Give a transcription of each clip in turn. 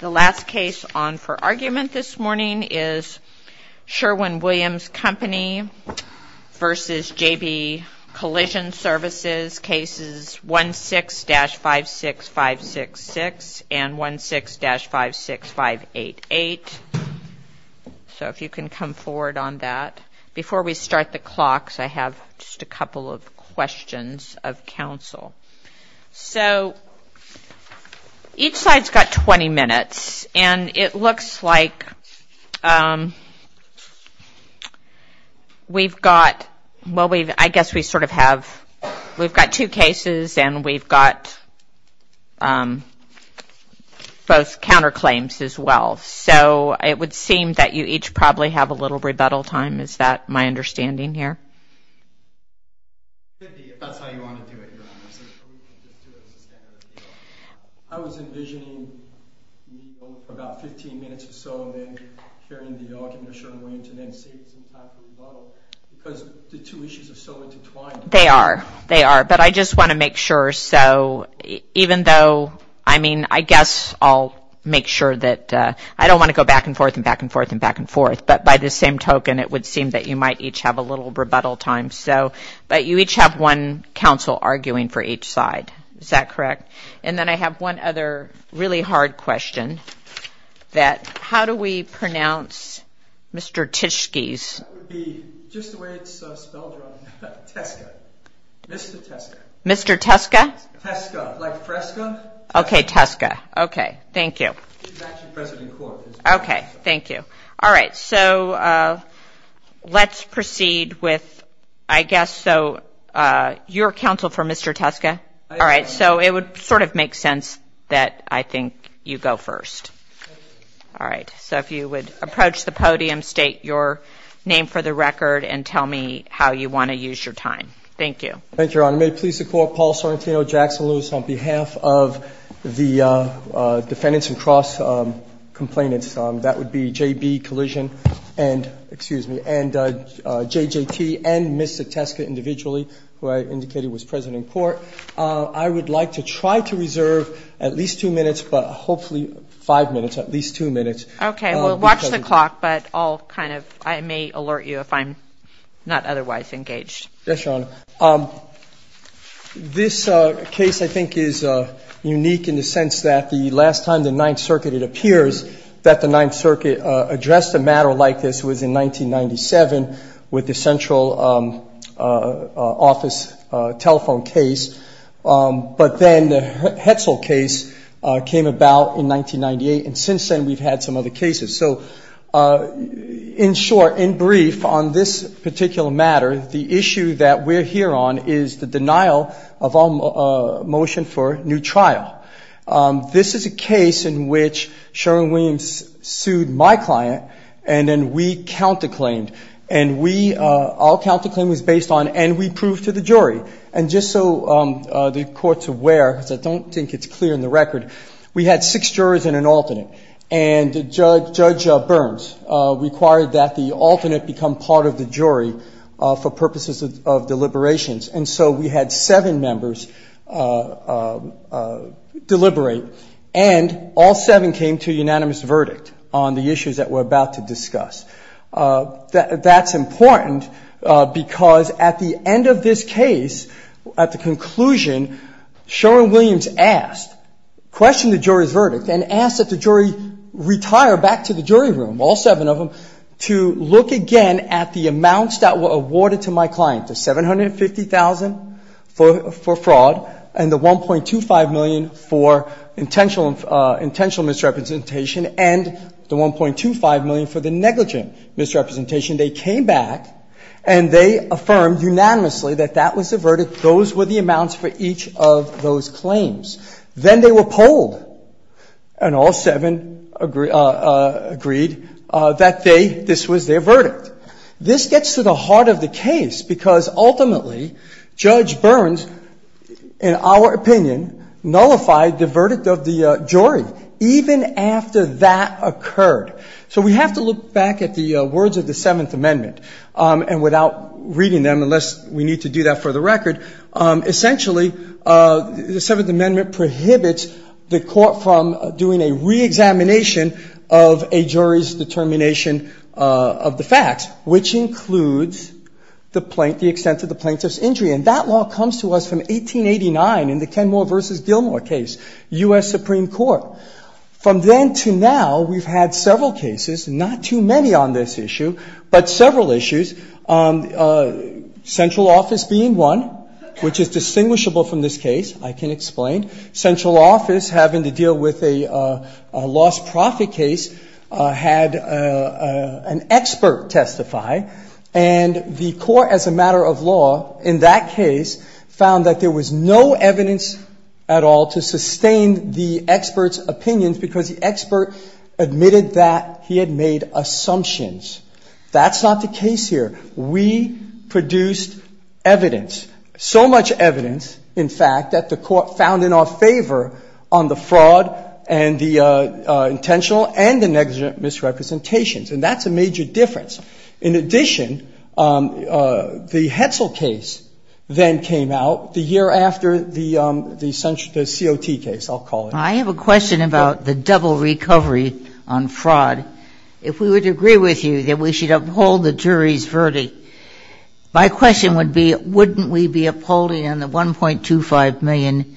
The last case on for argument this morning is Sherwin-Williams Company v. JB Collision Services, Cases 1-6-56566 and 1-6-56588. So if you can come forward on that. Before we start the clocks, I have just a couple of questions of counsel. So each side's got 20 minutes and it looks like we've got, well I guess we sort of have, we've got two cases and we've got both counterclaims as well. So it would seem that you each probably have a little rebuttal time. Is that my understanding here? Cindy, if that's how you want to do it, you're absolutely welcome to do it as a standard appeal. I was envisioning about 15 minutes or so and then hearing the argument of Sherwin-Williams and then seeing some time for rebuttal because the two issues are so intertwined. They are, they are, but I just want to make sure. So even though, I mean, I guess I'll make sure that, I don't want to go back and forth and back and forth and back and forth, but by the same token, it would seem that you might each have a little rebuttal time. So, but you each have one counsel arguing for each side. Is that correct? And then I have one other really hard question that, how do we pronounce Mr. Tishke's? That would be just the way it's spelled wrong. Tesca. Mr. Tesca. Mr. Tesca? Tesca, like Fresca? Okay, Tesca. Okay, thank you. It's actually president court. Okay, thank you. All right, so let's proceed with, I guess, so your counsel for Mr. Tesca. All right, so it would sort of make sense that I think you go first. All right, so if you would approach the podium, state your name for the record, and tell me how you want to use your time. Thank you. Thank you, Your Honor. May it please the Court, Paul Sorrentino Jackson Lewis on behalf of the defendants and cross-complainants, that would be J.B. Collision and, excuse me, and J.J.T. and Mr. Tesca individually, who I indicated was president court. I would like to try to reserve at least two minutes, but hopefully five minutes, at least two minutes. Okay, well, watch the clock, but I'll kind of, I may alert you if I'm not otherwise engaged. Yes, Your Honor. This case, I think, is unique in the sense that the last time the Ninth Circuit, it appears that the Ninth Circuit addressed a matter like this was in 1997 with the central office telephone case. But then the Hetzel case came about in 1998, and since then we've had some other cases. So in short, in brief, on this particular matter, the issue that we're here on is the denial of a motion for a new trial. This is a case in which Sherwin Williams sued my client, and then we counterclaimed, and we, our counterclaim was based on, and we proved to the jury. And just so the Court's aware, because I don't think it's clear in the record, we had six judge Burns require that the alternate become part of the jury for purposes of deliberations. And so we had seven members deliberate, and all seven came to a unanimous verdict on the issues that we're about to discuss. That's important because at the end of this case, at the conclusion, Sherwin Williams asked, questioned the jury's verdict and asked that the jury retire back to the jury room, all seven of them, to look again at the amounts that were awarded to my client, the $750,000 for fraud and the $1.25 million for intentional misrepresentation and the $1.25 million for the negligent misrepresentation. They came back and they affirmed unanimously that that was the verdict. Those were the amounts for each of those claims. Then they were polled, and all seven agreed that they, this was their verdict. This gets to the heart of the case, because ultimately, Judge Burns, in our opinion, nullified the verdict of the jury even after that occurred. So we have to look back at the words of the Seventh Amendment. And without reading them, unless we need to do that for the record, essentially the Seventh Amendment prohibits the court from doing a reexamination of a jury's determination of the facts, which includes the extent of the plaintiff's injury. And that law comes to us from 1889 in the Kenmore v. Gilmore case, U.S. Supreme Court. From then to now, we've had several cases, not too many on this issue, but several central office being one, which is distinguishable from this case, I can explain. Central office having to deal with a lost profit case had an expert testify. And the court, as a matter of law, in that case, found that there was no evidence at all to sustain the expert's opinions because the expert admitted that he had made assumptions. That's not the case here. We produced evidence, so much evidence, in fact, that the court found in our favor on the fraud and the intentional and the negligent misrepresentations. And that's a major difference. In addition, the Hetzel case then came out the year after the COT case, I'll call it. I have a question about the double recovery on fraud. If we would agree with you that we should uphold the jury's verdict, my question would be, wouldn't we be upholding on the $1.25 million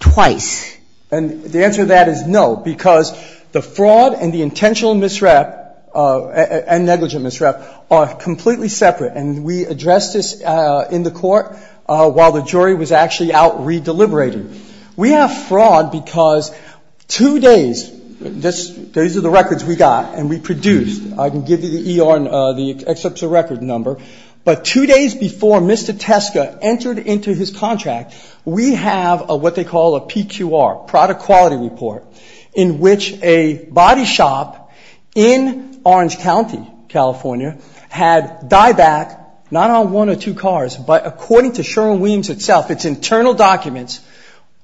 twice? And the answer to that is no, because the fraud and the intentional misrep and negligent misrep are completely separate. And we addressed this in the Court while the jury was actually out re-deliberating. We have fraud because two days, these are the records we got and we produced. I can give you the excerpts of record number. But two days before Mr. Teska entered into his contract, we have what they call a PQR, product quality report, in which a body shop in Orange County, California, had dieback, not on one or two cars, but according to Sherwin-Williams itself, its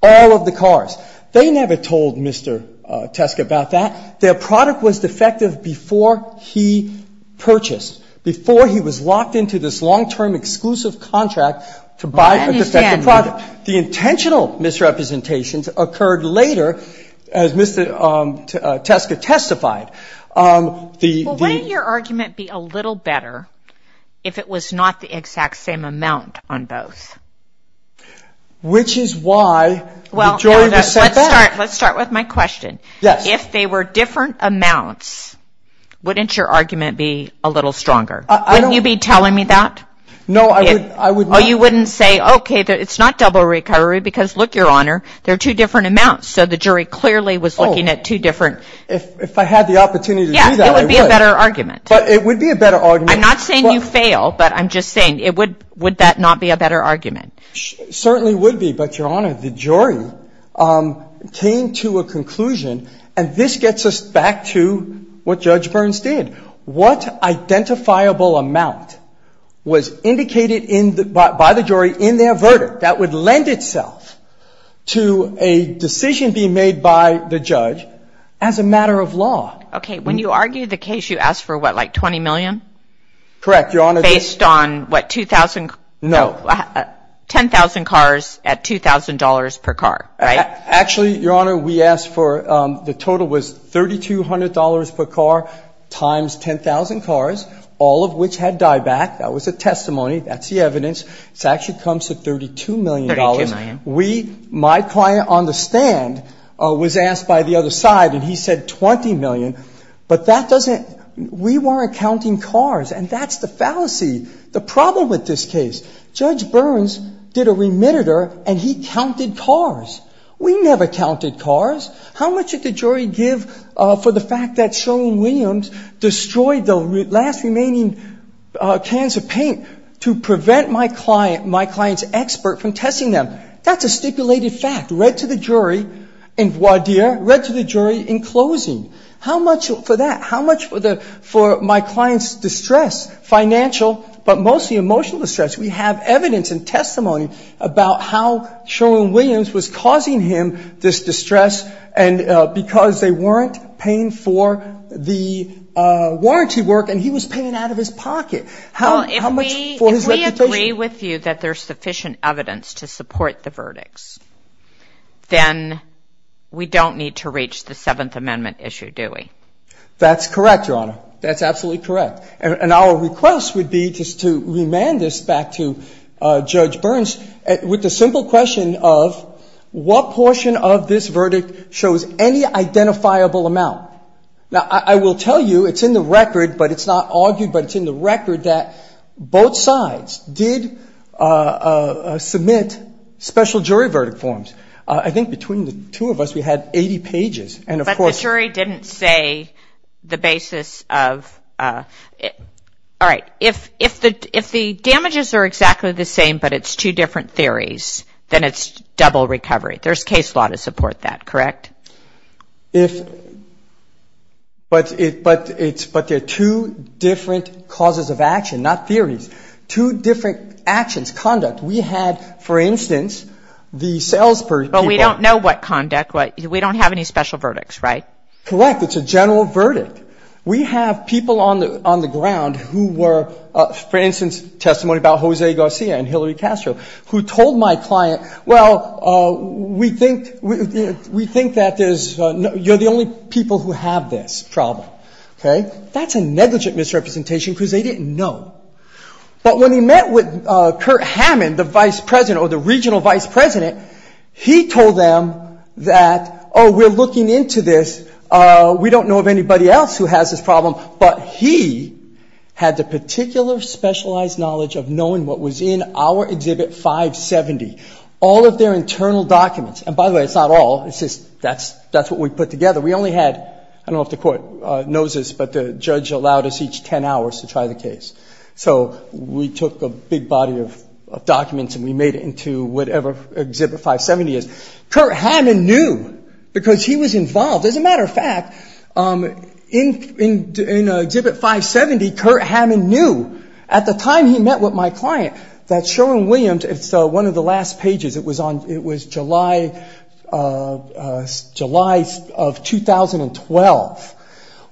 all of the cars. They never told Mr. Teska about that. Their product was defective before he purchased, before he was locked into this long-term exclusive contract to buy a defective product. I understand that. The intentional misrepresentations occurred later, as Mr. Teska testified. Well, wouldn't your argument be a little better if it was not the exact same amount on both? Which is why the jury was set back. Well, let's start with my question. Yes. If they were different amounts, wouldn't your argument be a little stronger? Wouldn't you be telling me that? No, I would not. Oh, you wouldn't say, okay, it's not double recovery because look, Your Honor, they're two different amounts. So the jury clearly was looking at two different. Oh, if I had the opportunity to do that, I would. Yeah, it would be a better argument. But it would be a better argument. I'm not saying you fail, but I'm just saying, would that not be a better argument? It certainly would be. But, Your Honor, the jury came to a conclusion, and this gets us back to what Judge Burns did. What identifiable amount was indicated by the jury in their verdict that would lend itself to a decision being made by the judge as a matter of law? Okay, when you argue the case, you ask for what, like $20 million? Correct, Your Honor. Based on what, 2,000? No. 10,000 cars at $2,000 per car, right? Actually, Your Honor, we asked for, the total was $3,200 per car times 10,000 cars, all of which had dieback. That was a testimony. That's the evidence. It actually comes to $32 million. $32 million. We, my client on the stand, was asked by the other side, and he said $20 million. But that doesn't, we weren't counting cars, and that's the fallacy, the problem with this case. Judge Burns did a remittitor, and he counted cars. We never counted cars. How much did the jury give for the fact that Sherwin-Williams destroyed the last remaining cans of paint to prevent my client, my client's expert, from testing them? That's a stipulated fact, read to the jury in voir dire, read to the jury in closing. How much for that? How much for my client's distress, financial but mostly emotional distress? We have evidence and testimony about how Sherwin-Williams was causing him this distress, and because they weren't paying for the warranty work, and he was paying out of his pocket. How much for his reputation? If we argue that there's sufficient evidence to support the verdicts, then we don't need to reach the Seventh Amendment issue, do we? That's correct, Your Honor. That's absolutely correct. And our request would be just to remand this back to Judge Burns with the simple question of what portion of this verdict shows any identifiable amount? Now, I will tell you it's in the record, but it's not argued, but it's in the record that both sides did submit special jury verdict forms. I think between the two of us we had 80 pages, and of course— But the jury didn't say the basis of—all right. If the damages are exactly the same but it's two different theories, then it's double recovery. There's case law to support that, correct? But there are two different causes of action, not theories. Two different actions, conduct. We had, for instance, the sales— But we don't know what conduct. We don't have any special verdicts, right? Correct. It's a general verdict. We have people on the ground who were, for instance, testimony about Jose Garcia and Hillary Castro, who told my client, well, we think that there's—you're the only people who have this problem. Okay? That's a negligent misrepresentation because they didn't know. But when he met with Kurt Hammond, the vice president or the regional vice president, he told them that, oh, we're looking into this. We don't know of anybody else who has this problem. But he had the particular specialized knowledge of knowing what was in our Exhibit 570, all of their internal documents. And by the way, it's not all. It's just that's what we put together. We only had—I don't know if the court knows this, but the judge allowed us each 10 hours to try the case. So we took a big body of documents and we made it into whatever Exhibit 570 is. Kurt Hammond knew because he was involved. As a matter of fact, in Exhibit 570, Kurt Hammond knew, at the time he met with my client, that Sherwin-Williams—it's one of the last pages. It was on—it was July of 2012,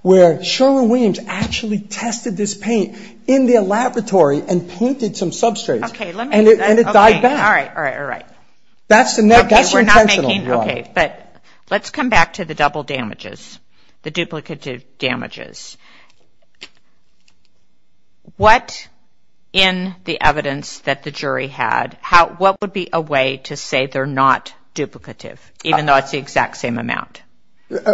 where Sherwin-Williams actually tested this paint in their laboratory and painted some substrates. Okay, let me— And it died back. All right, all right, all right. That's the next— We're not making— the duplicative damages. What, in the evidence that the jury had, what would be a way to say they're not duplicative, even though it's the exact same amount?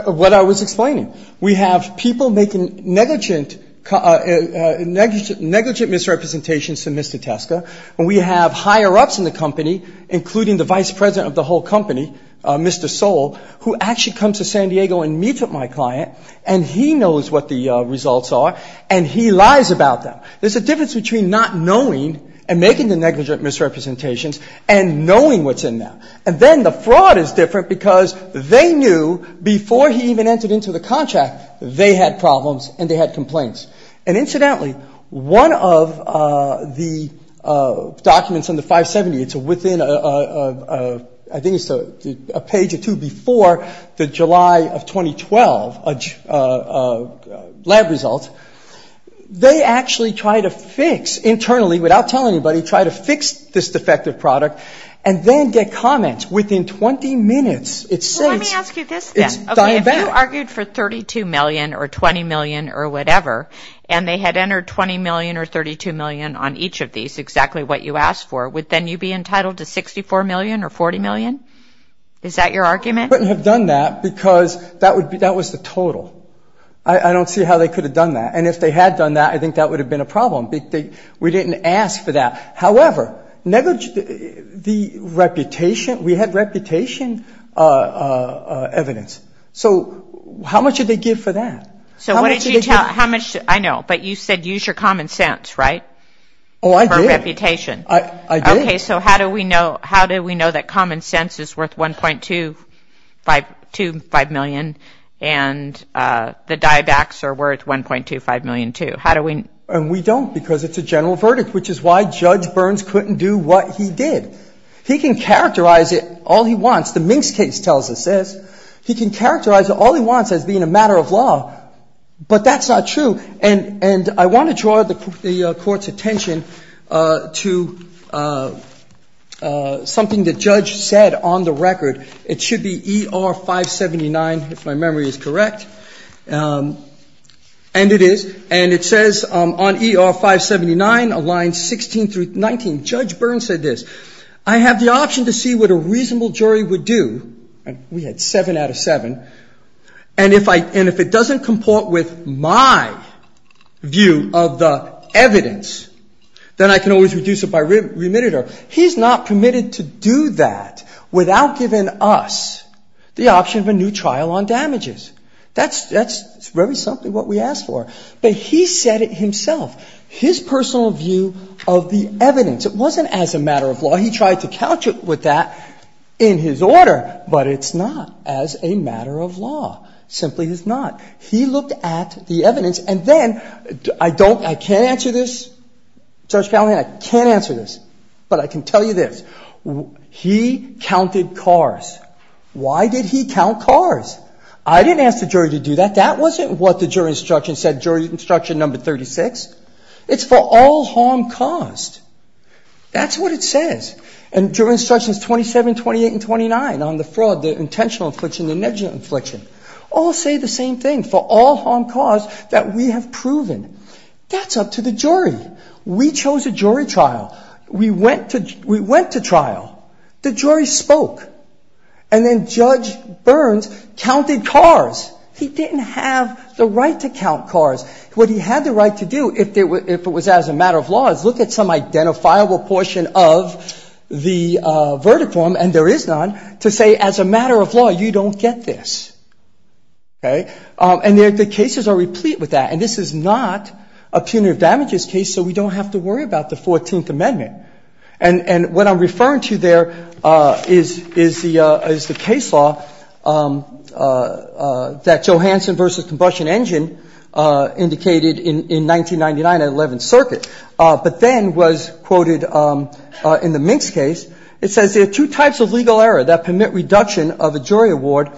What I was explaining. We have people making negligent misrepresentations to Mr. Teska, and we have higher-ups in the company, including the vice president of the whole company, Mr. Soule, who actually comes to San Diego and meets with my client, and he knows what the results are, and he lies about them. There's a difference between not knowing and making the negligent misrepresentations and knowing what's in them. And then the fraud is different because they knew, before he even entered into the contract, they had problems and they had complaints. And incidentally, one of the documents in the 570, it's within a—I think it's a page or two before the July of 2012 lab results, they actually try to fix, internally, without telling anybody, try to fix this defective product and then get comments within 20 minutes. It says— Well, let me ask you this then. It's diabetic. If you argued for $32 million or $20 million or whatever, and they had entered $20 million or $32 million on each of these, exactly what you asked for, would then you be entitled to $64 million or $40 million? Is that your argument? We wouldn't have done that because that was the total. I don't see how they could have done that. And if they had done that, I think that would have been a problem. We didn't ask for that. However, the reputation—we had reputation evidence. So how much did they give for that? So what did you tell—I know, but you said use your common sense, right? Oh, I did. For reputation. I did. Okay, so how do we know that common sense is worth $1.25 million and the DIABACs are worth $1.25 million too? And we don't because it's a general verdict, which is why Judge Burns couldn't do what he did. He can characterize it all he wants. The Minks case tells us this. He can characterize it all he wants as being a matter of law, but that's not true. And I want to draw the Court's attention to something the judge said on the record. It should be ER-579, if my memory is correct. And it is. And it says on ER-579, lines 16 through 19, Judge Burns said this. I have the option to see what a reasonable jury would do. And we had seven out of seven. And if it doesn't comport with my view of the evidence, then I can always reduce it by remitter. He's not permitted to do that without giving us the option of a new trial on damages. That's very simply what we asked for. But he said it himself, his personal view of the evidence. It wasn't as a matter of law. He tried to couch it with that in his order. But it's not as a matter of law. Simply is not. He looked at the evidence. And then I don't ‑‑ I can't answer this. Judge Palahniuk, I can't answer this. But I can tell you this. He counted cars. Why did he count cars? I didn't ask the jury to do that. That wasn't what the jury instruction said, jury instruction number 36. It's for all harm caused. That's what it says. And jury instructions 27, 28, and 29 on the fraud, the intentional infliction, the negligent infliction, all say the same thing, for all harm caused, that we have proven. That's up to the jury. We chose a jury trial. We went to trial. The jury spoke. And then Judge Burns counted cars. He didn't have the right to count cars. What he had the right to do, if it was as a matter of law, is look at some identifiable portion of the verdict form, and there is none, to say as a matter of law, you don't get this. Okay? And the cases are replete with that. And this is not a punitive damages case, so we don't have to worry about the 14th Amendment. Okay. And what I'm referring to there is the case law that Johansson v. Combustion Engine indicated in 1999 at 11th Circuit, but then was quoted in the Minks case. It says there are two types of legal error that permit reduction of a jury award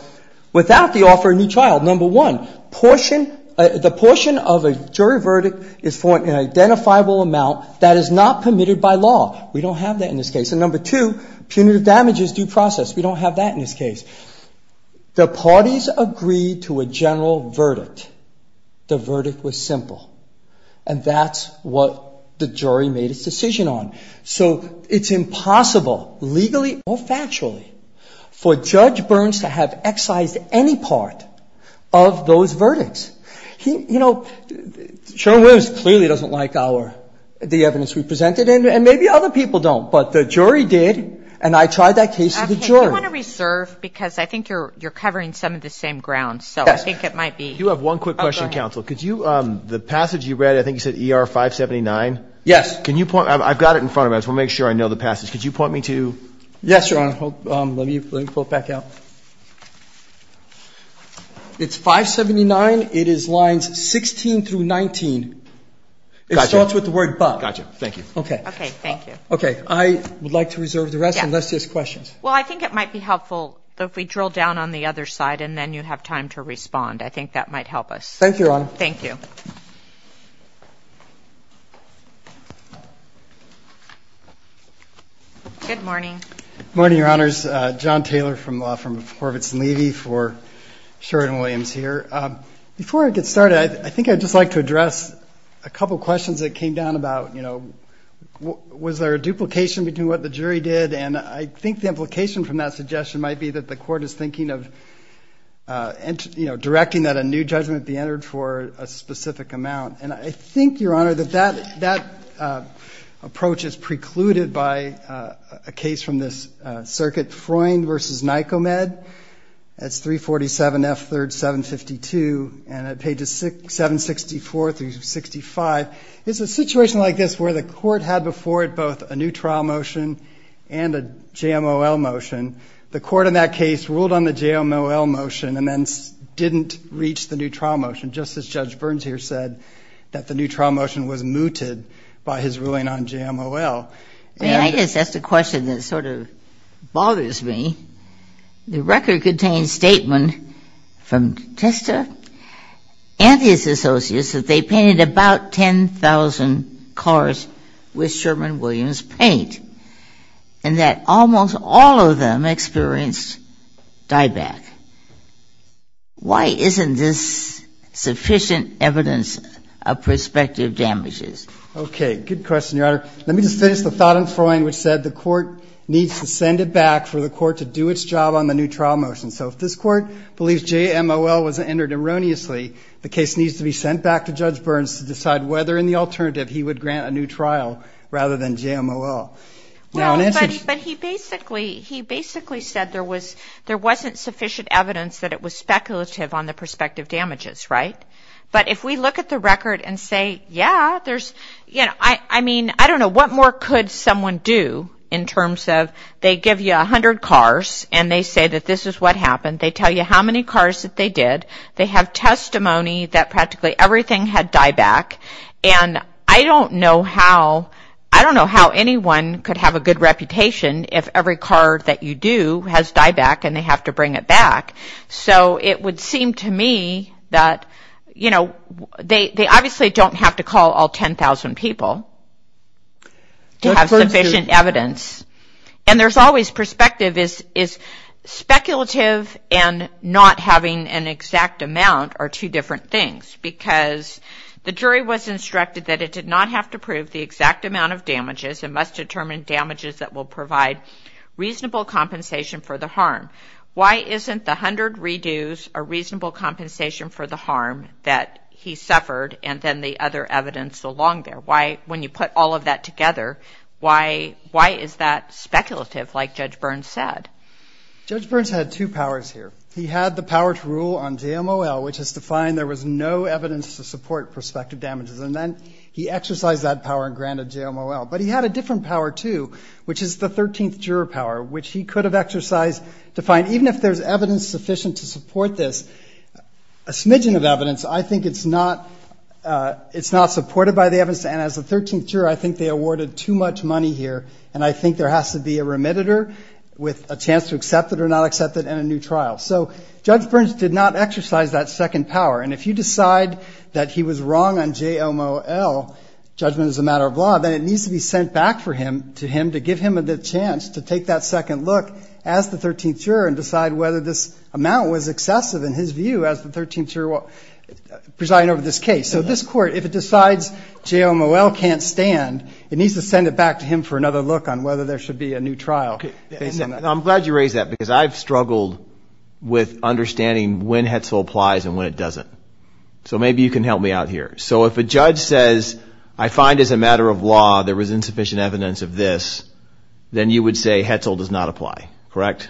without the offer of a new trial. Number one, the portion of a jury verdict is for an identifiable amount that is not permitted by law. We don't have that in this case. And number two, punitive damages due process. We don't have that in this case. The parties agreed to a general verdict. The verdict was simple. And that's what the jury made its decision on. So it's impossible, legally or factually, for Judge Burns to have excised any part of those verdicts. He, you know, Sherwin-Williams clearly doesn't like our, the evidence we presented, and maybe other people don't. But the jury did, and I tried that case with the jury. Okay. Do you want to reserve? Because I think you're covering some of the same ground. Yes. So I think it might be. You have one quick question, counsel. Could you, the passage you read, I think you said ER 579? Yes. Can you point? I've got it in front of us. We'll make sure I know the passage. Could you point me to? Yes, Your Honor. Let me pull it back out. It's 579. It is lines 16 through 19. Gotcha. It starts with the word but. Gotcha. Thank you. Okay. Okay. Thank you. Okay. I would like to reserve the rest, unless there's questions. Well, I think it might be helpful if we drill down on the other side, and then you have time to respond. I think that might help us. Thank you, Your Honor. Thank you. Good morning. Good morning, Your Honors. John Taylor from Horvitz and Levy for Sheridan Williams here. Before I get started, I think I'd just like to address a couple questions that came down about, you know, was there a duplication between what the jury did? And I think the implication from that suggestion might be that the Court is thinking of, you know, directing that a new judgment be entered for a specific amount. And I think, Your Honor, that that approach is precluded by a case from this circuit, Freund v. Nycomed. That's 347 F. 3rd, 752, and at pages 764 through 65. It's a situation like this where the Court had before it both a new trial motion and a JMOL motion. The Court in that case ruled on the JMOL motion and then didn't reach the new trial motion, just as Judge Berns here said that the new trial motion was mooted by his ruling on JMOL. I mean, I guess that's the question that sort of bothers me. The record contains statement from Testa and his associates that they painted about 10,000 cars with Sherman Williams paint, and that almost all of them experienced dieback. Why isn't this sufficient evidence of prospective damages? Good question, Your Honor. Let me just finish the thought on Freund, which said the Court needs to send it back for the Court to do its job on the new trial motion. So if this Court believes JMOL was entered erroneously, the case needs to be sent back to Judge Berns to decide whether in the alternative he would grant a new trial rather than JMOL. But he basically said there wasn't sufficient evidence that it was speculative on the prospective damages, right? But if we look at the record and say, yeah, there's, you know, I mean, I don't know. What more could someone do in terms of they give you 100 cars and they say that this is what happened. They tell you how many cars that they did. They have testimony that practically everything had dieback. And I don't know how anyone could have a good reputation if every car that you do has dieback and they have to bring it back. So it would seem to me that, you know, they obviously don't have to call all 10,000 people to have sufficient evidence. And there's always perspective is speculative and not having an exact amount are two different things. Because the jury was instructed that it did not have to prove the exact amount of damages and must determine damages that will provide reasonable compensation for the harm. Why isn't the 100 redos a reasonable compensation for the harm that he suffered and then the other evidence along there? Why, when you put all of that together, why is that speculative, like Judge Burns said? Judge Burns had two powers here. He had the power to rule on JMOL, which is to find there was no evidence to support prospective damages. And then he exercised that power and granted JMOL. But he had a different power too, which is the 13th juror power, which he could have exercised to find, even if there's evidence sufficient to support this, a smidgen of evidence, I think it's not supported by the evidence. And as the 13th juror, I think they awarded too much money here. And I think there has to be a remediator with a chance to accept it or not accept it in a new trial. So Judge Burns did not exercise that second power. And if you decide that he was wrong on JMOL, judgment is a matter of law, then it needs to be sent back to him to give him the chance to take that second look as the 13th juror and decide whether this amount was excessive in his view as the 13th juror presiding over this case. So this Court, if it decides JMOL can't stand, it needs to send it back to him for another look on whether there should be a new trial based on that. I'm glad you raised that because I've struggled with understanding when Hetzel applies and when it doesn't. So maybe you can help me out here. So if a judge says, I find as a matter of law there was insufficient evidence of this, then you would say Hetzel does not apply, correct?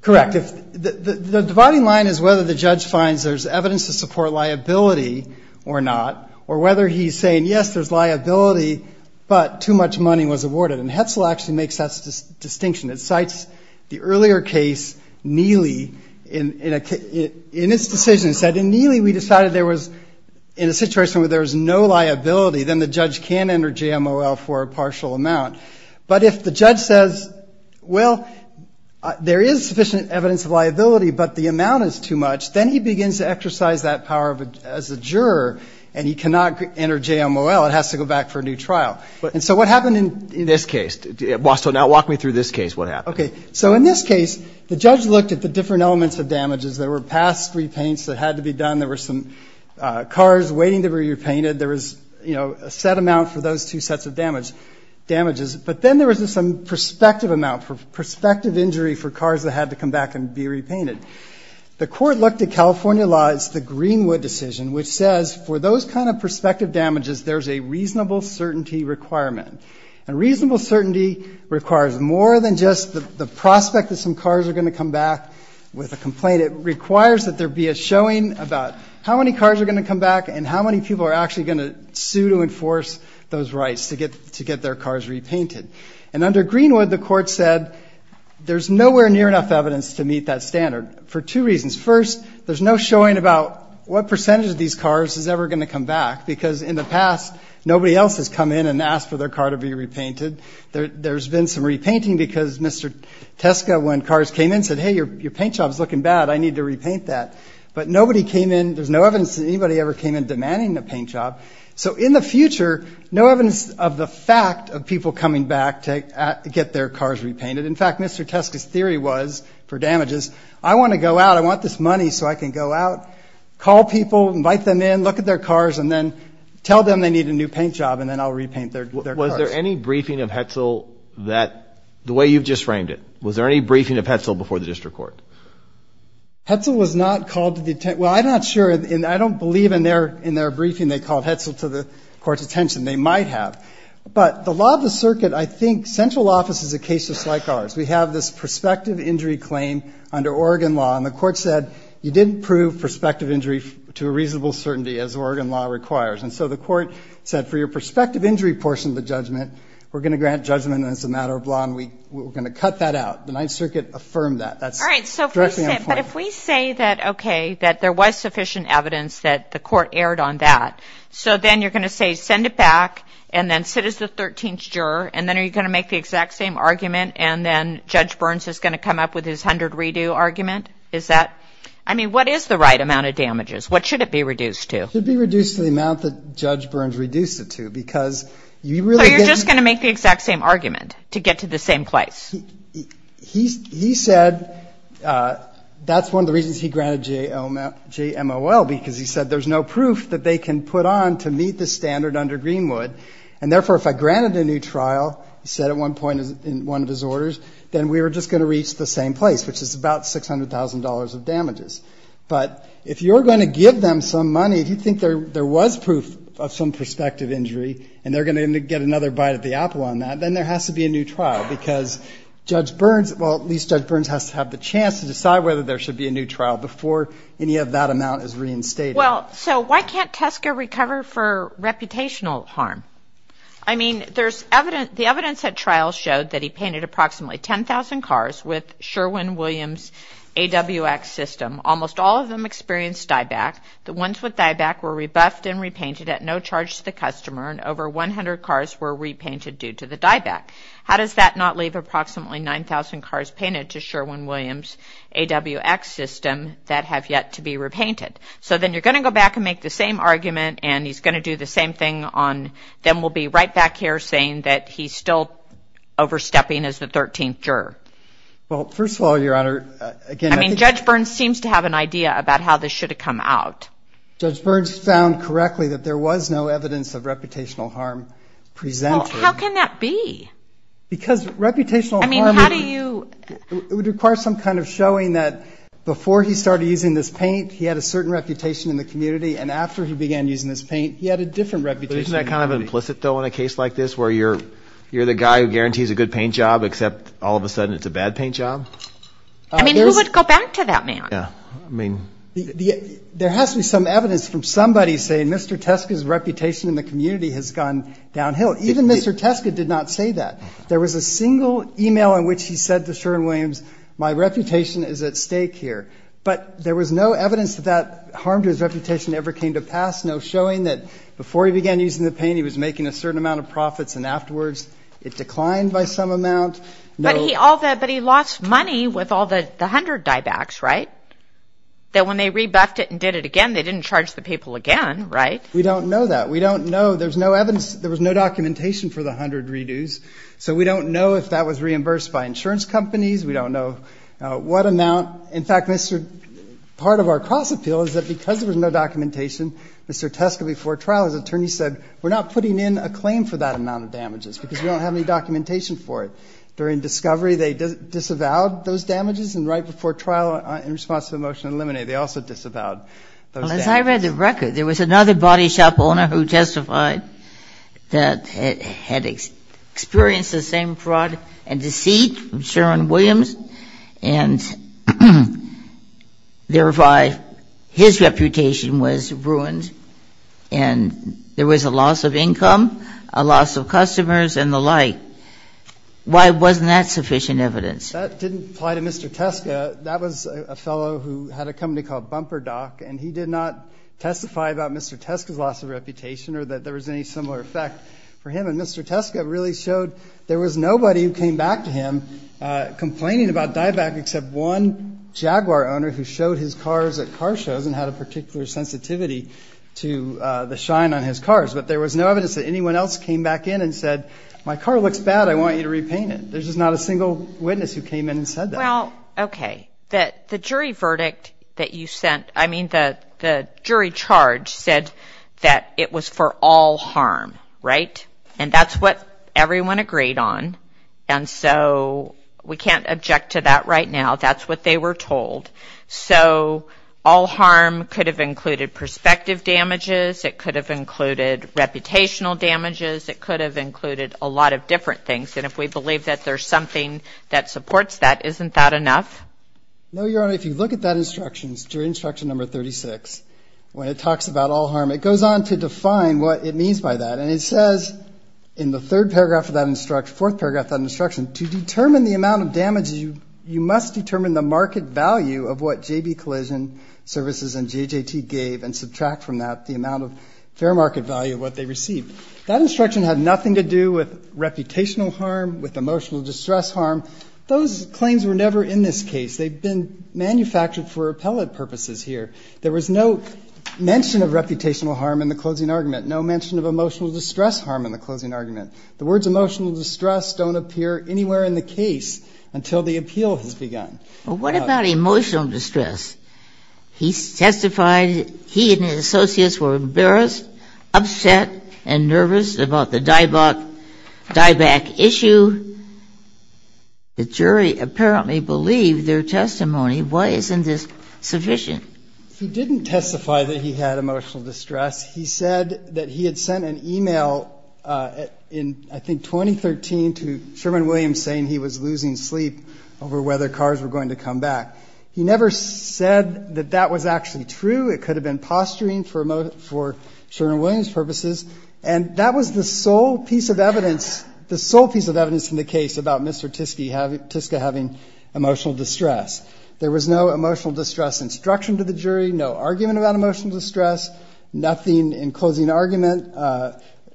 Correct. The dividing line is whether the judge finds there's evidence to support liability or not, or whether he's saying, yes, there's liability, but too much money was awarded. And Hetzel actually makes that distinction. It cites the earlier case, Neely. In its decision it said, in Neely we decided there was, in a situation where there was no liability, then the judge can enter JMOL for a partial amount. But if the judge says, well, there is sufficient evidence of liability, but the amount is too much, then he begins to exercise that power as a juror, and he cannot enter JMOL. It has to go back for a new trial. And so what happened in this case? So now walk me through this case, what happened. Okay. So in this case, the judge looked at the different elements of damages. There were past repaints that had to be done. There were some cars waiting to be repainted. There was, you know, a set amount for those two sets of damages. But then there was some prospective amount, prospective injury for cars that had to come back and be repainted. The court looked at California law, it's the Greenwood decision, which says for those kind of prospective damages there's a reasonable certainty requirement. And reasonable certainty requires more than just the prospect that some cars are going to come back with a complaint. It requires that there be a showing about how many cars are going to come back and how many people are actually going to sue to enforce those rights to get their cars repainted. And under Greenwood, the court said there's nowhere near enough evidence to meet that standard for two reasons. First, there's no showing about what percentage of these cars is ever going to come back, because in the past nobody else has come in and asked for their car to be repainted. There's been some repainting because Mr. Teska, when cars came in, said, hey, your paint job is looking bad, I need to repaint that. But nobody came in, there's no evidence that anybody ever came in demanding a paint job. So in the future, no evidence of the fact of people coming back to get their cars repainted. In fact, Mr. Teska's theory was for damages, I want to go out, I want this money so I can go out, call people, invite them in, look at their cars, and then tell them they need a new paint job, and then I'll repaint their cars. Was there any briefing of Hetzel that, the way you've just framed it, was there any briefing of Hetzel before the district court? Hetzel was not called to the, well, I'm not sure, I don't believe in their briefing they called Hetzel to the court's attention. They might have. But the law of the circuit, I think central office is a case just like ours. We have this prospective injury claim under Oregon law, and the court said, you didn't prove prospective injury to a reasonable certainty, as Oregon law requires. And so the court said, for your prospective injury portion of the judgment, we're going to grant judgment as a matter of law, and we're going to cut that out. The Ninth Circuit affirmed that. That's directly on the point. All right. But if we say that, okay, that there was sufficient evidence that the court erred on that, so then you're going to say, send it back, and then sit as the 13th juror, and then are you going to make the exact same argument, and then Judge Burns is going to come up with his 100-redo argument? Is that, I mean, what is the right amount of damages? What should it be reduced to? It should be reduced to the amount that Judge Burns reduced it to, because you really get... So you're just going to make the exact same argument to get to the same place? He said that's one of the reasons he granted JMOL, because he said there's no proof that they can put on to meet the standard under Greenwood. And therefore, if I granted a new trial, he said at one point in one of his orders, then we were just going to reach the same place, which is about $600,000 of damages. But if you're going to give them some money, if you think there was proof of some prospective injury and they're going to get another bite of the apple on that, then there has to be a new trial, because Judge Burns, well, at least Judge Burns has to have the chance to decide whether there should be a new trial before any of that amount is reinstated. Well, so why can't Tesco recover for reputational harm? I mean, there's evidence... The evidence at trial showed that he painted approximately 10,000 cars with Sherwin-Williams AWX system. Almost all of them experienced dieback. The ones with dieback were rebuffed and repainted at no charge to the customer, and over 100 cars were repainted due to the dieback. How does that not leave approximately 9,000 cars painted to Sherwin-Williams AWX system that have yet to be repainted? So then you're going to go back and make the same argument, and he's going to do the same thing, then we'll be right back here saying that he's still overstepping as the 13th juror. Well, first of all, Your Honor, again, I think... I mean, Judge Burns seems to have an idea about how this should have come out. Judge Burns found correctly that there was no evidence of reputational harm presented. Well, how can that be? Because reputational harm... I mean, how do you... It would require some kind of showing that before he started using this paint, he had a certain reputation in the community, and after he began using this paint, he had a different reputation in the community. But isn't that kind of implicit, though, in a case like this, where you're the guy who guarantees a good paint job, except all of a sudden it's a bad paint job? I mean, who would go back to that man? Yeah. I mean... There has to be some evidence from somebody saying Mr. Teske's reputation in the community has gone downhill. Even Mr. Teske did not say that. There was a single email in which he said to Sherwin Williams, my reputation is at stake here. But there was no evidence that that harm to his reputation ever came to pass, no showing that before he began using the paint, he was making a certain amount of profits, and afterwards it declined by some amount. But he lost money with all the 100 diebacks, right? That when they rebuffed it and did it again, they didn't charge the people again, right? We don't know that. We don't know. There's no evidence. There was no documentation for the 100 redos, so we don't know if that was reimbursed by insurance companies. We don't know what amount. In fact, part of our cross-appeal is that because there was no documentation, Mr. Teske, before trial, his attorney said, we're not putting in a claim for that amount of damages because we don't have any documentation for it. During discovery, they disavowed those damages, and right before trial in response to the motion to eliminate, they also disavowed those damages. Well, as I read the record, there was another body shop owner who testified that had experienced the same fraud and deceit from Sherwin Williams, and thereby his reputation was ruined, and there was a loss of income, a loss of customers, and the like. Why wasn't that sufficient evidence? That didn't apply to Mr. Teske. That was a fellow who had a company called Bumper Doc, and he did not testify about Mr. Teske's loss of reputation or that there was any similar effect for him. And Mr. Teske really showed there was nobody who came back to him complaining about dieback except one Jaguar owner who showed his cars at car shows and had a particular sensitivity to the shine on his cars. But there was no evidence that anyone else came back in and said, my car looks bad, I want you to repaint it. There's just not a single witness who came in and said that. Well, okay. The jury verdict that you sent, I mean, the jury charge said that it was for all harm, right? And that's what everyone agreed on. And so we can't object to that right now. That's what they were told. So all harm could have included perspective damages. It could have included reputational damages. It could have included a lot of different things. And if we believe that there's something that supports that, isn't that enough? No, Your Honor. If you look at that instruction, jury instruction number 36, when it talks about all harm, it goes on to define what it means by that. And it says in the third paragraph of that instruction, fourth paragraph of that instruction, to determine the amount of damages, you must determine the market value of what JB Collision Services and JJT gave and subtract from that the amount of fair market value of what they received. That instruction had nothing to do with reputational harm, with emotional distress harm. Those claims were never in this case. They've been manufactured for appellate purposes here. There was no mention of reputational harm in the closing argument, no mention of emotional distress harm in the closing argument. The words emotional distress don't appear anywhere in the case until the appeal has begun. Well, what about emotional distress? He testified he and his associates were embarrassed, upset and nervous about the dieback issue. The jury apparently believed their testimony. Why isn't this sufficient? He didn't testify that he had emotional distress. He said that he had sent an e-mail in, I think, 2013 to Sherman Williams saying he was losing sleep over whether cars were going to come back. He never said that that was actually true. It could have been posturing for Sherman Williams' purposes. And that was the sole piece of evidence, the sole piece of evidence in the case about Mr. Tiska having emotional distress. There was no emotional distress instruction to the jury, no argument about emotional distress, nothing in closing argument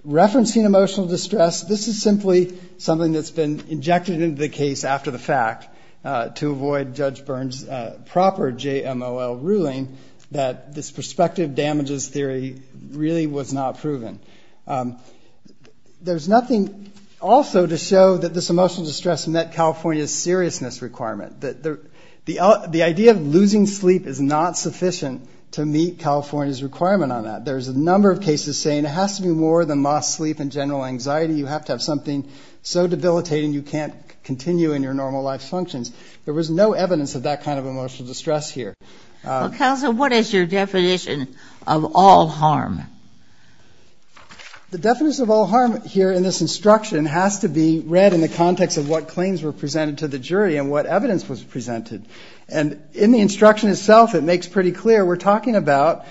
referencing emotional distress. This is simply something that's been injected into the case after the fact to avoid Judge Byrne's proper JMOL ruling that this prospective damages theory really was not proven. There's nothing also to show that this emotional distress met California's seriousness requirement. The idea of losing sleep is not sufficient to meet California's requirement on that. There's a number of cases saying it has to be more than lost sleep and general anxiety. You have to have something so debilitating you can't continue in your normal life functions. There was no evidence of that kind of emotional distress here. Counsel, what is your definition of all harm? The definition of all harm here in this instruction has to be read in the context of what claims were presented to the jury and what evidence was presented. And in the instruction itself, it makes pretty clear we're talking about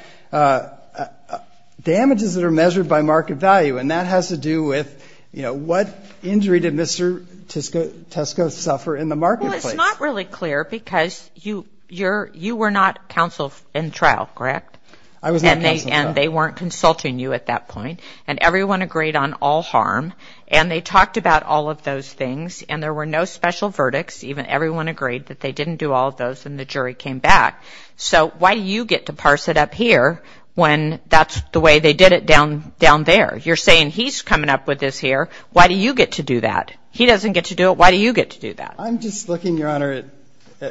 damages that are measured by market value, and that has to do with what injury did Mr. Tiska suffer in the marketplace. Well, it's not really clear because you were not counsel in trial, correct? I was not counsel in trial. And they weren't consulting you at that point. And everyone agreed on all harm. And they talked about all of those things. And there were no special verdicts. Even everyone agreed that they didn't do all of those, and the jury came back. So why do you get to parse it up here when that's the way they did it down there? You're saying he's coming up with this here. Why do you get to do that? He doesn't get to do it. Why do you get to do that? I'm just looking, Your Honor,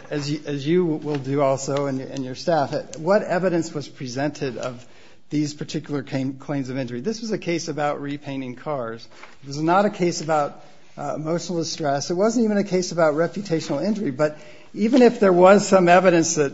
as you will do also and your staff, at what evidence was presented of these particular claims of injury. This was a case about repainting cars. This was not a case about emotional distress. It wasn't even a case about reputational injury. But even if there was some evidence that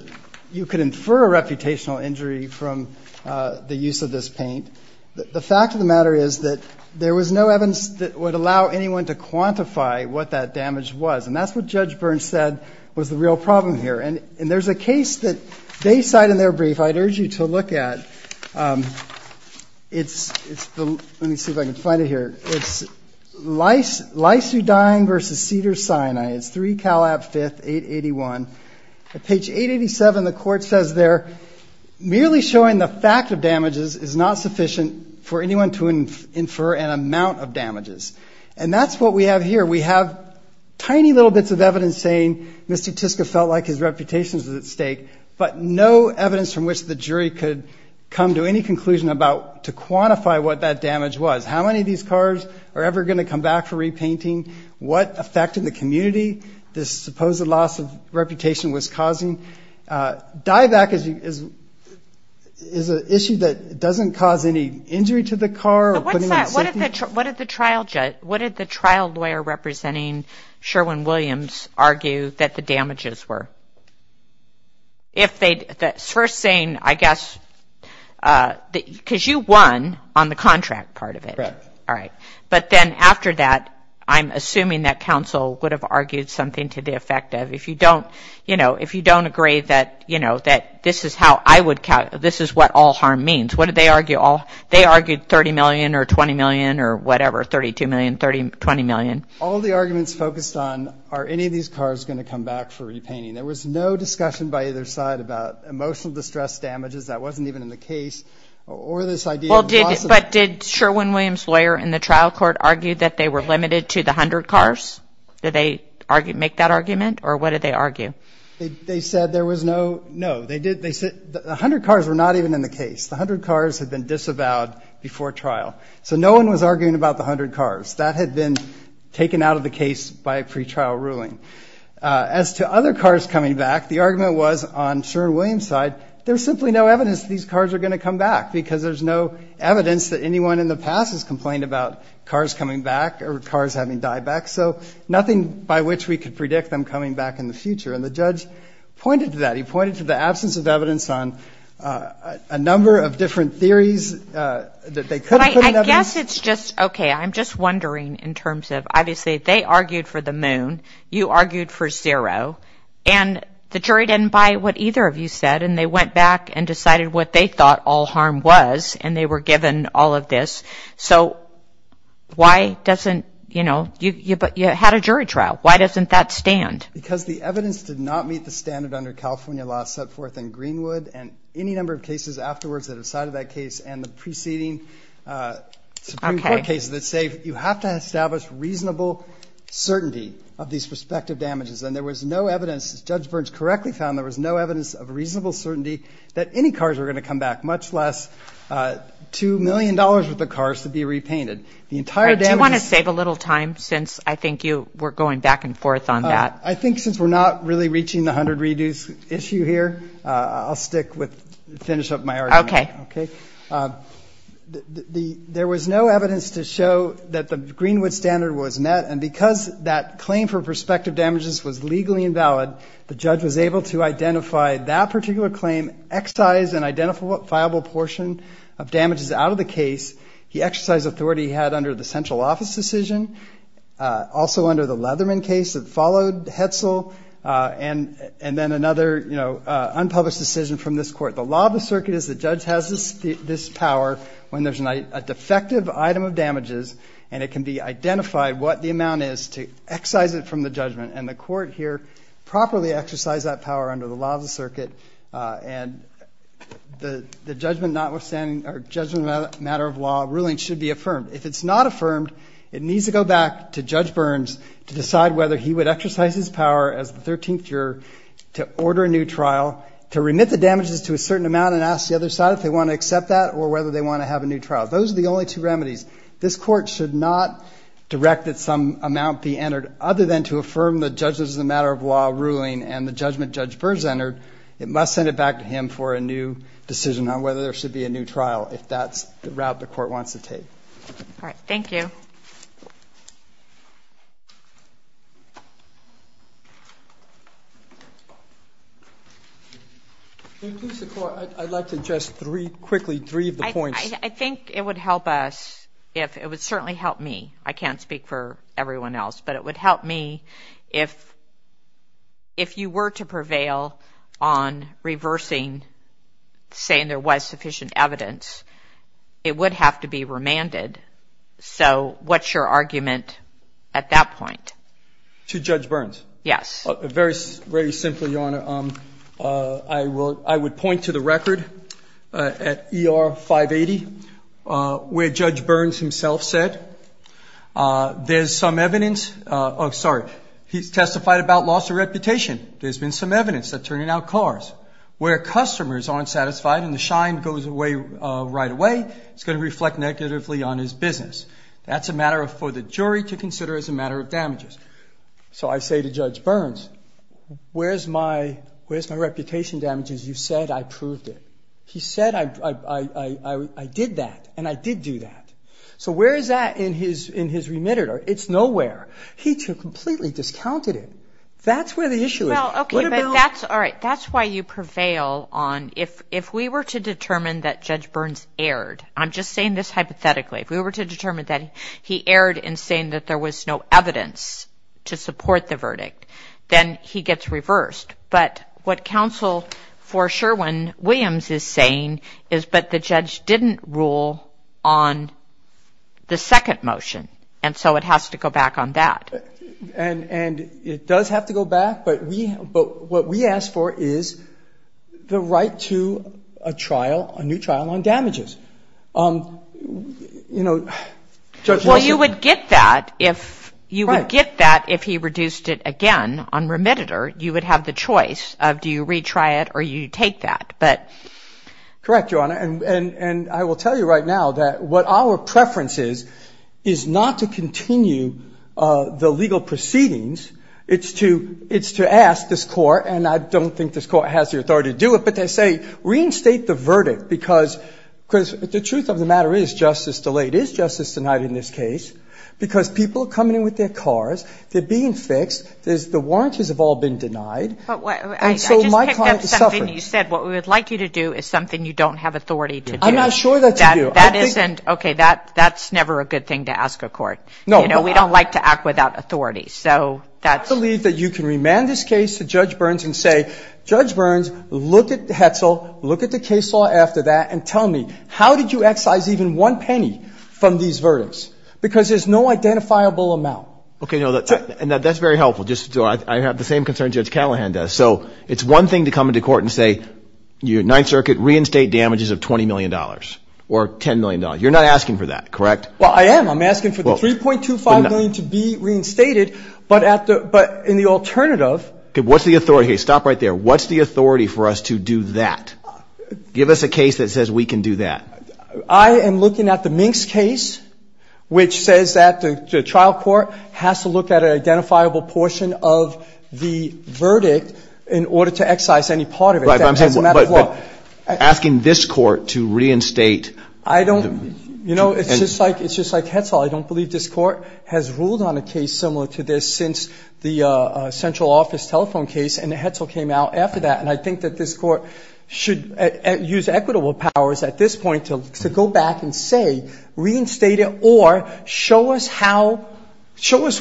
you could infer a reputational injury from the use of this paint, the fact of the matter is that there was no evidence that would allow anyone to quantify what that damage was. And that's what Judge Burns said was the real problem here. And there's a case that they cite in their brief I'd urge you to look at. Let me see if I can find it here. It's Lysudyne v. Cedar Sinai. It's 3 Calab 5, 881. At page 887, the court says there, merely showing the fact of damages is not sufficient for anyone to infer an amount of damages. And that's what we have here. We have tiny little bits of evidence saying Mr. Tiska felt like his reputation was at stake, but no evidence from which the jury could come to any conclusion about to quantify what that damage was. How many of these cars are ever going to come back for repainting? What effect in the community this supposed loss of reputation was causing? Dieback is an issue that doesn't cause any injury to the car. What did the trial lawyer representing Sherwin-Williams argue that the damages were? First saying, I guess, because you won on the contract part of it. Correct. All right. But then after that, I'm assuming that counsel would have argued something to the effect of if you don't, you know, if you don't agree that, you know, that this is how I would count, this is what all harm means. What did they argue? They argued 30 million or 20 million or whatever, 32 million, 20 million. All the arguments focused on are any of these cars going to come back for repainting? There was no discussion by either side about emotional distress damages. That wasn't even in the case. Or this idea of loss of. But did Sherwin-Williams lawyer in the trial court argue that they were limited to the 100 cars? Did they make that argument? Or what did they argue? They said there was no, no. They said the 100 cars were not even in the case. The 100 cars had been disavowed before trial. So no one was arguing about the 100 cars. That had been taken out of the case by a pretrial ruling. As to other cars coming back, the argument was on Sherwin-Williams side, there's simply no evidence these cars are going to come back because there's no evidence that anyone in the past has complained about cars coming back or cars having died back. So nothing by which we could predict them coming back in the future. And the judge pointed to that. He pointed to the absence of evidence on a number of different theories that they could have put in evidence. But I guess it's just, okay, I'm just wondering in terms of, obviously they argued for the moon. You argued for zero. And the jury didn't buy what either of you said. And they went back and decided what they thought all harm was. And they were given all of this. So why doesn't, you know, you had a jury trial. Why doesn't that stand? Because the evidence did not meet the standard under California law set forth in Greenwood and any number of cases afterwards that have cited that case and the preceding Supreme Court cases that say you have to establish reasonable certainty of these respective damages. And there was no evidence, as Judge Burns correctly found, there was no evidence of reasonable certainty that any cars were going to come back, much less $2 million worth of cars to be repainted. The entire damages. Do you want to save a little time since I think you were going back and forth on that? I think since we're not really reaching the 100 reduce issue here, I'll stick with, finish up my argument. Okay. There was no evidence to show that the Greenwood standard was met. And because that claim for prospective damages was legally invalid, the judge was able to identify that particular claim, excise an identifiable portion of damages out of the case. He exercised authority he had under the central office decision, also under the Leatherman case that followed Hetzel, and then another, you know, unpublished decision from this court. The law of the circuit is the judge has this power when there's a defective item of damages and it can be identified what the amount is to excise it from the judgment. And the court here properly exercised that power under the law of the circuit. And the judgment notwithstanding or judgment of a matter of law ruling should be affirmed. If it's not affirmed, it needs to go back to Judge Burns to decide whether he would exercise his power as the 13th juror to order a new trial, to remit the damages to a certain amount and ask the other side if they want to accept that or whether they want to have a new trial. Those are the only two remedies. This court should not direct that some amount be entered other than to affirm the judge's matter of law ruling and the judgment Judge Burns entered. It must send it back to him for a new decision on whether there should be a new trial. If that's the route the court wants to take. All right. Thank you. I'd like to just three quickly, three of the points. I think it would help us if it would certainly help me. I can't speak for everyone else, but it would help me if, if you were to prevail on reversing saying there was sufficient evidence, it would have to be remanded. So what's your argument at that point? To Judge Burns? Yes. Very, very simply, Your Honor, I will, I would point to the record at ER 580 where Judge Burns himself said there's some evidence of, sorry, he's testified about loss of reputation. There's been some evidence that turning out cars where customers aren't satisfied and the shine goes away right away. It's going to reflect negatively on his business. That's a matter of for the jury to consider as a matter of damages. So I say to Judge Burns, where's my reputation damages? You said I proved it. He said I did that, and I did do that. So where is that in his remand? It's nowhere. He completely discounted it. That's where the issue is. Well, okay, but that's all right. That's why you prevail on, if we were to determine that Judge Burns erred, I'm just saying this hypothetically, if we were to determine that he erred in saying that there was no evidence to support the verdict, then he gets reversed. But what counsel for Sherwin-Williams is saying is, but the judge didn't rule on the second motion, and so it has to go back on that. And it does have to go back, but what we ask for is the right to a trial, a new trial on damages. You know, Judge Nelson. Well, you would get that if he reduced it again on remediator. You would have the choice of do you retry it or do you take that. Correct, Your Honor. And I will tell you right now that what our preference is is not to continue the legal proceedings. It's to ask this Court, and I don't think this Court has the authority to do it, but they say reinstate the verdict because the truth of the matter is justice delayed. It is justice denied in this case because people are coming in with their cars. They're being fixed. The warranties have all been denied. And so my client is suffering. But I just picked up something you said. What we would like you to do is something you don't have authority to do. I'm not sure that's a deal. That isn't okay. That's never a good thing to ask a court. No. You know, we don't like to act without authority, so that's. I believe that you can remand this case to Judge Burns and say, Judge Burns, look at the Hetzel, look at the case law after that, and tell me, how did you excise even one penny from these verdicts? Because there's no identifiable amount. Okay, no, that's very helpful. I have the same concern Judge Callahan does. So it's one thing to come into court and say, Ninth Circuit, reinstate damages of $20 million or $10 million. You're not asking for that, correct? Well, I am. I'm asking for the $3.25 million to be reinstated, but in the alternative. Okay, what's the authority? Okay, stop right there. What's the authority for us to do that? Give us a case that says we can do that. I am looking at the Minks case, which says that the trial court has to look at an identifiable portion of the verdict in order to excise any part of it. But asking this court to reinstate. I don't. You know, it's just like Hetzel. I don't believe this court has ruled on a case similar to this since the central office telephone case, and Hetzel came out after that. And I think that this court should use equitable powers at this point to go back and say, reinstate it, or show us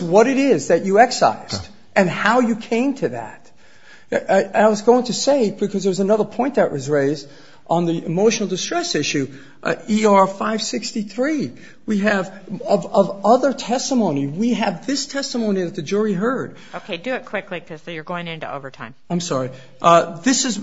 what it is that you excised and how you came to that. I was going to say, because there's another point that was raised on the emotional distress issue, ER 563. We have, of other testimony, we have this testimony that the jury heard. Okay, do it quickly because you're going into overtime. I'm sorry. This is,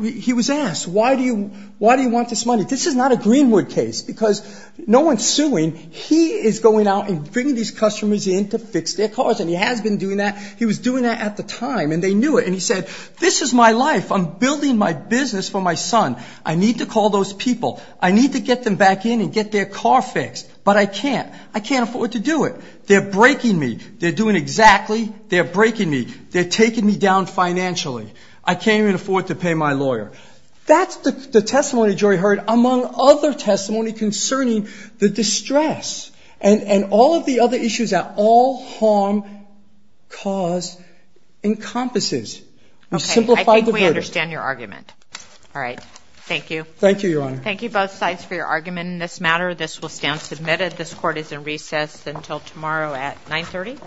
he was asked, why do you want this money? This is not a Greenwood case because no one's suing. He is going out and bringing these customers in to fix their cars, and he has been doing that. He was doing that at the time, and they knew it. And he said, this is my life. I'm building my business for my son. I need to call those people. I need to get them back in and get their car fixed, but I can't. I can't afford to do it. They're breaking me. They're doing exactly. They're breaking me. They're taking me down financially. I can't even afford to pay my lawyer. That's the testimony the jury heard, among other testimony concerning the distress and all of the other issues that all harm cause encompasses. Okay, I think we understand your argument. All right. Thank you. Thank you, Your Honor. Thank you both sides for your argument in this matter. This will stand submitted. This court is in recess until tomorrow at 930.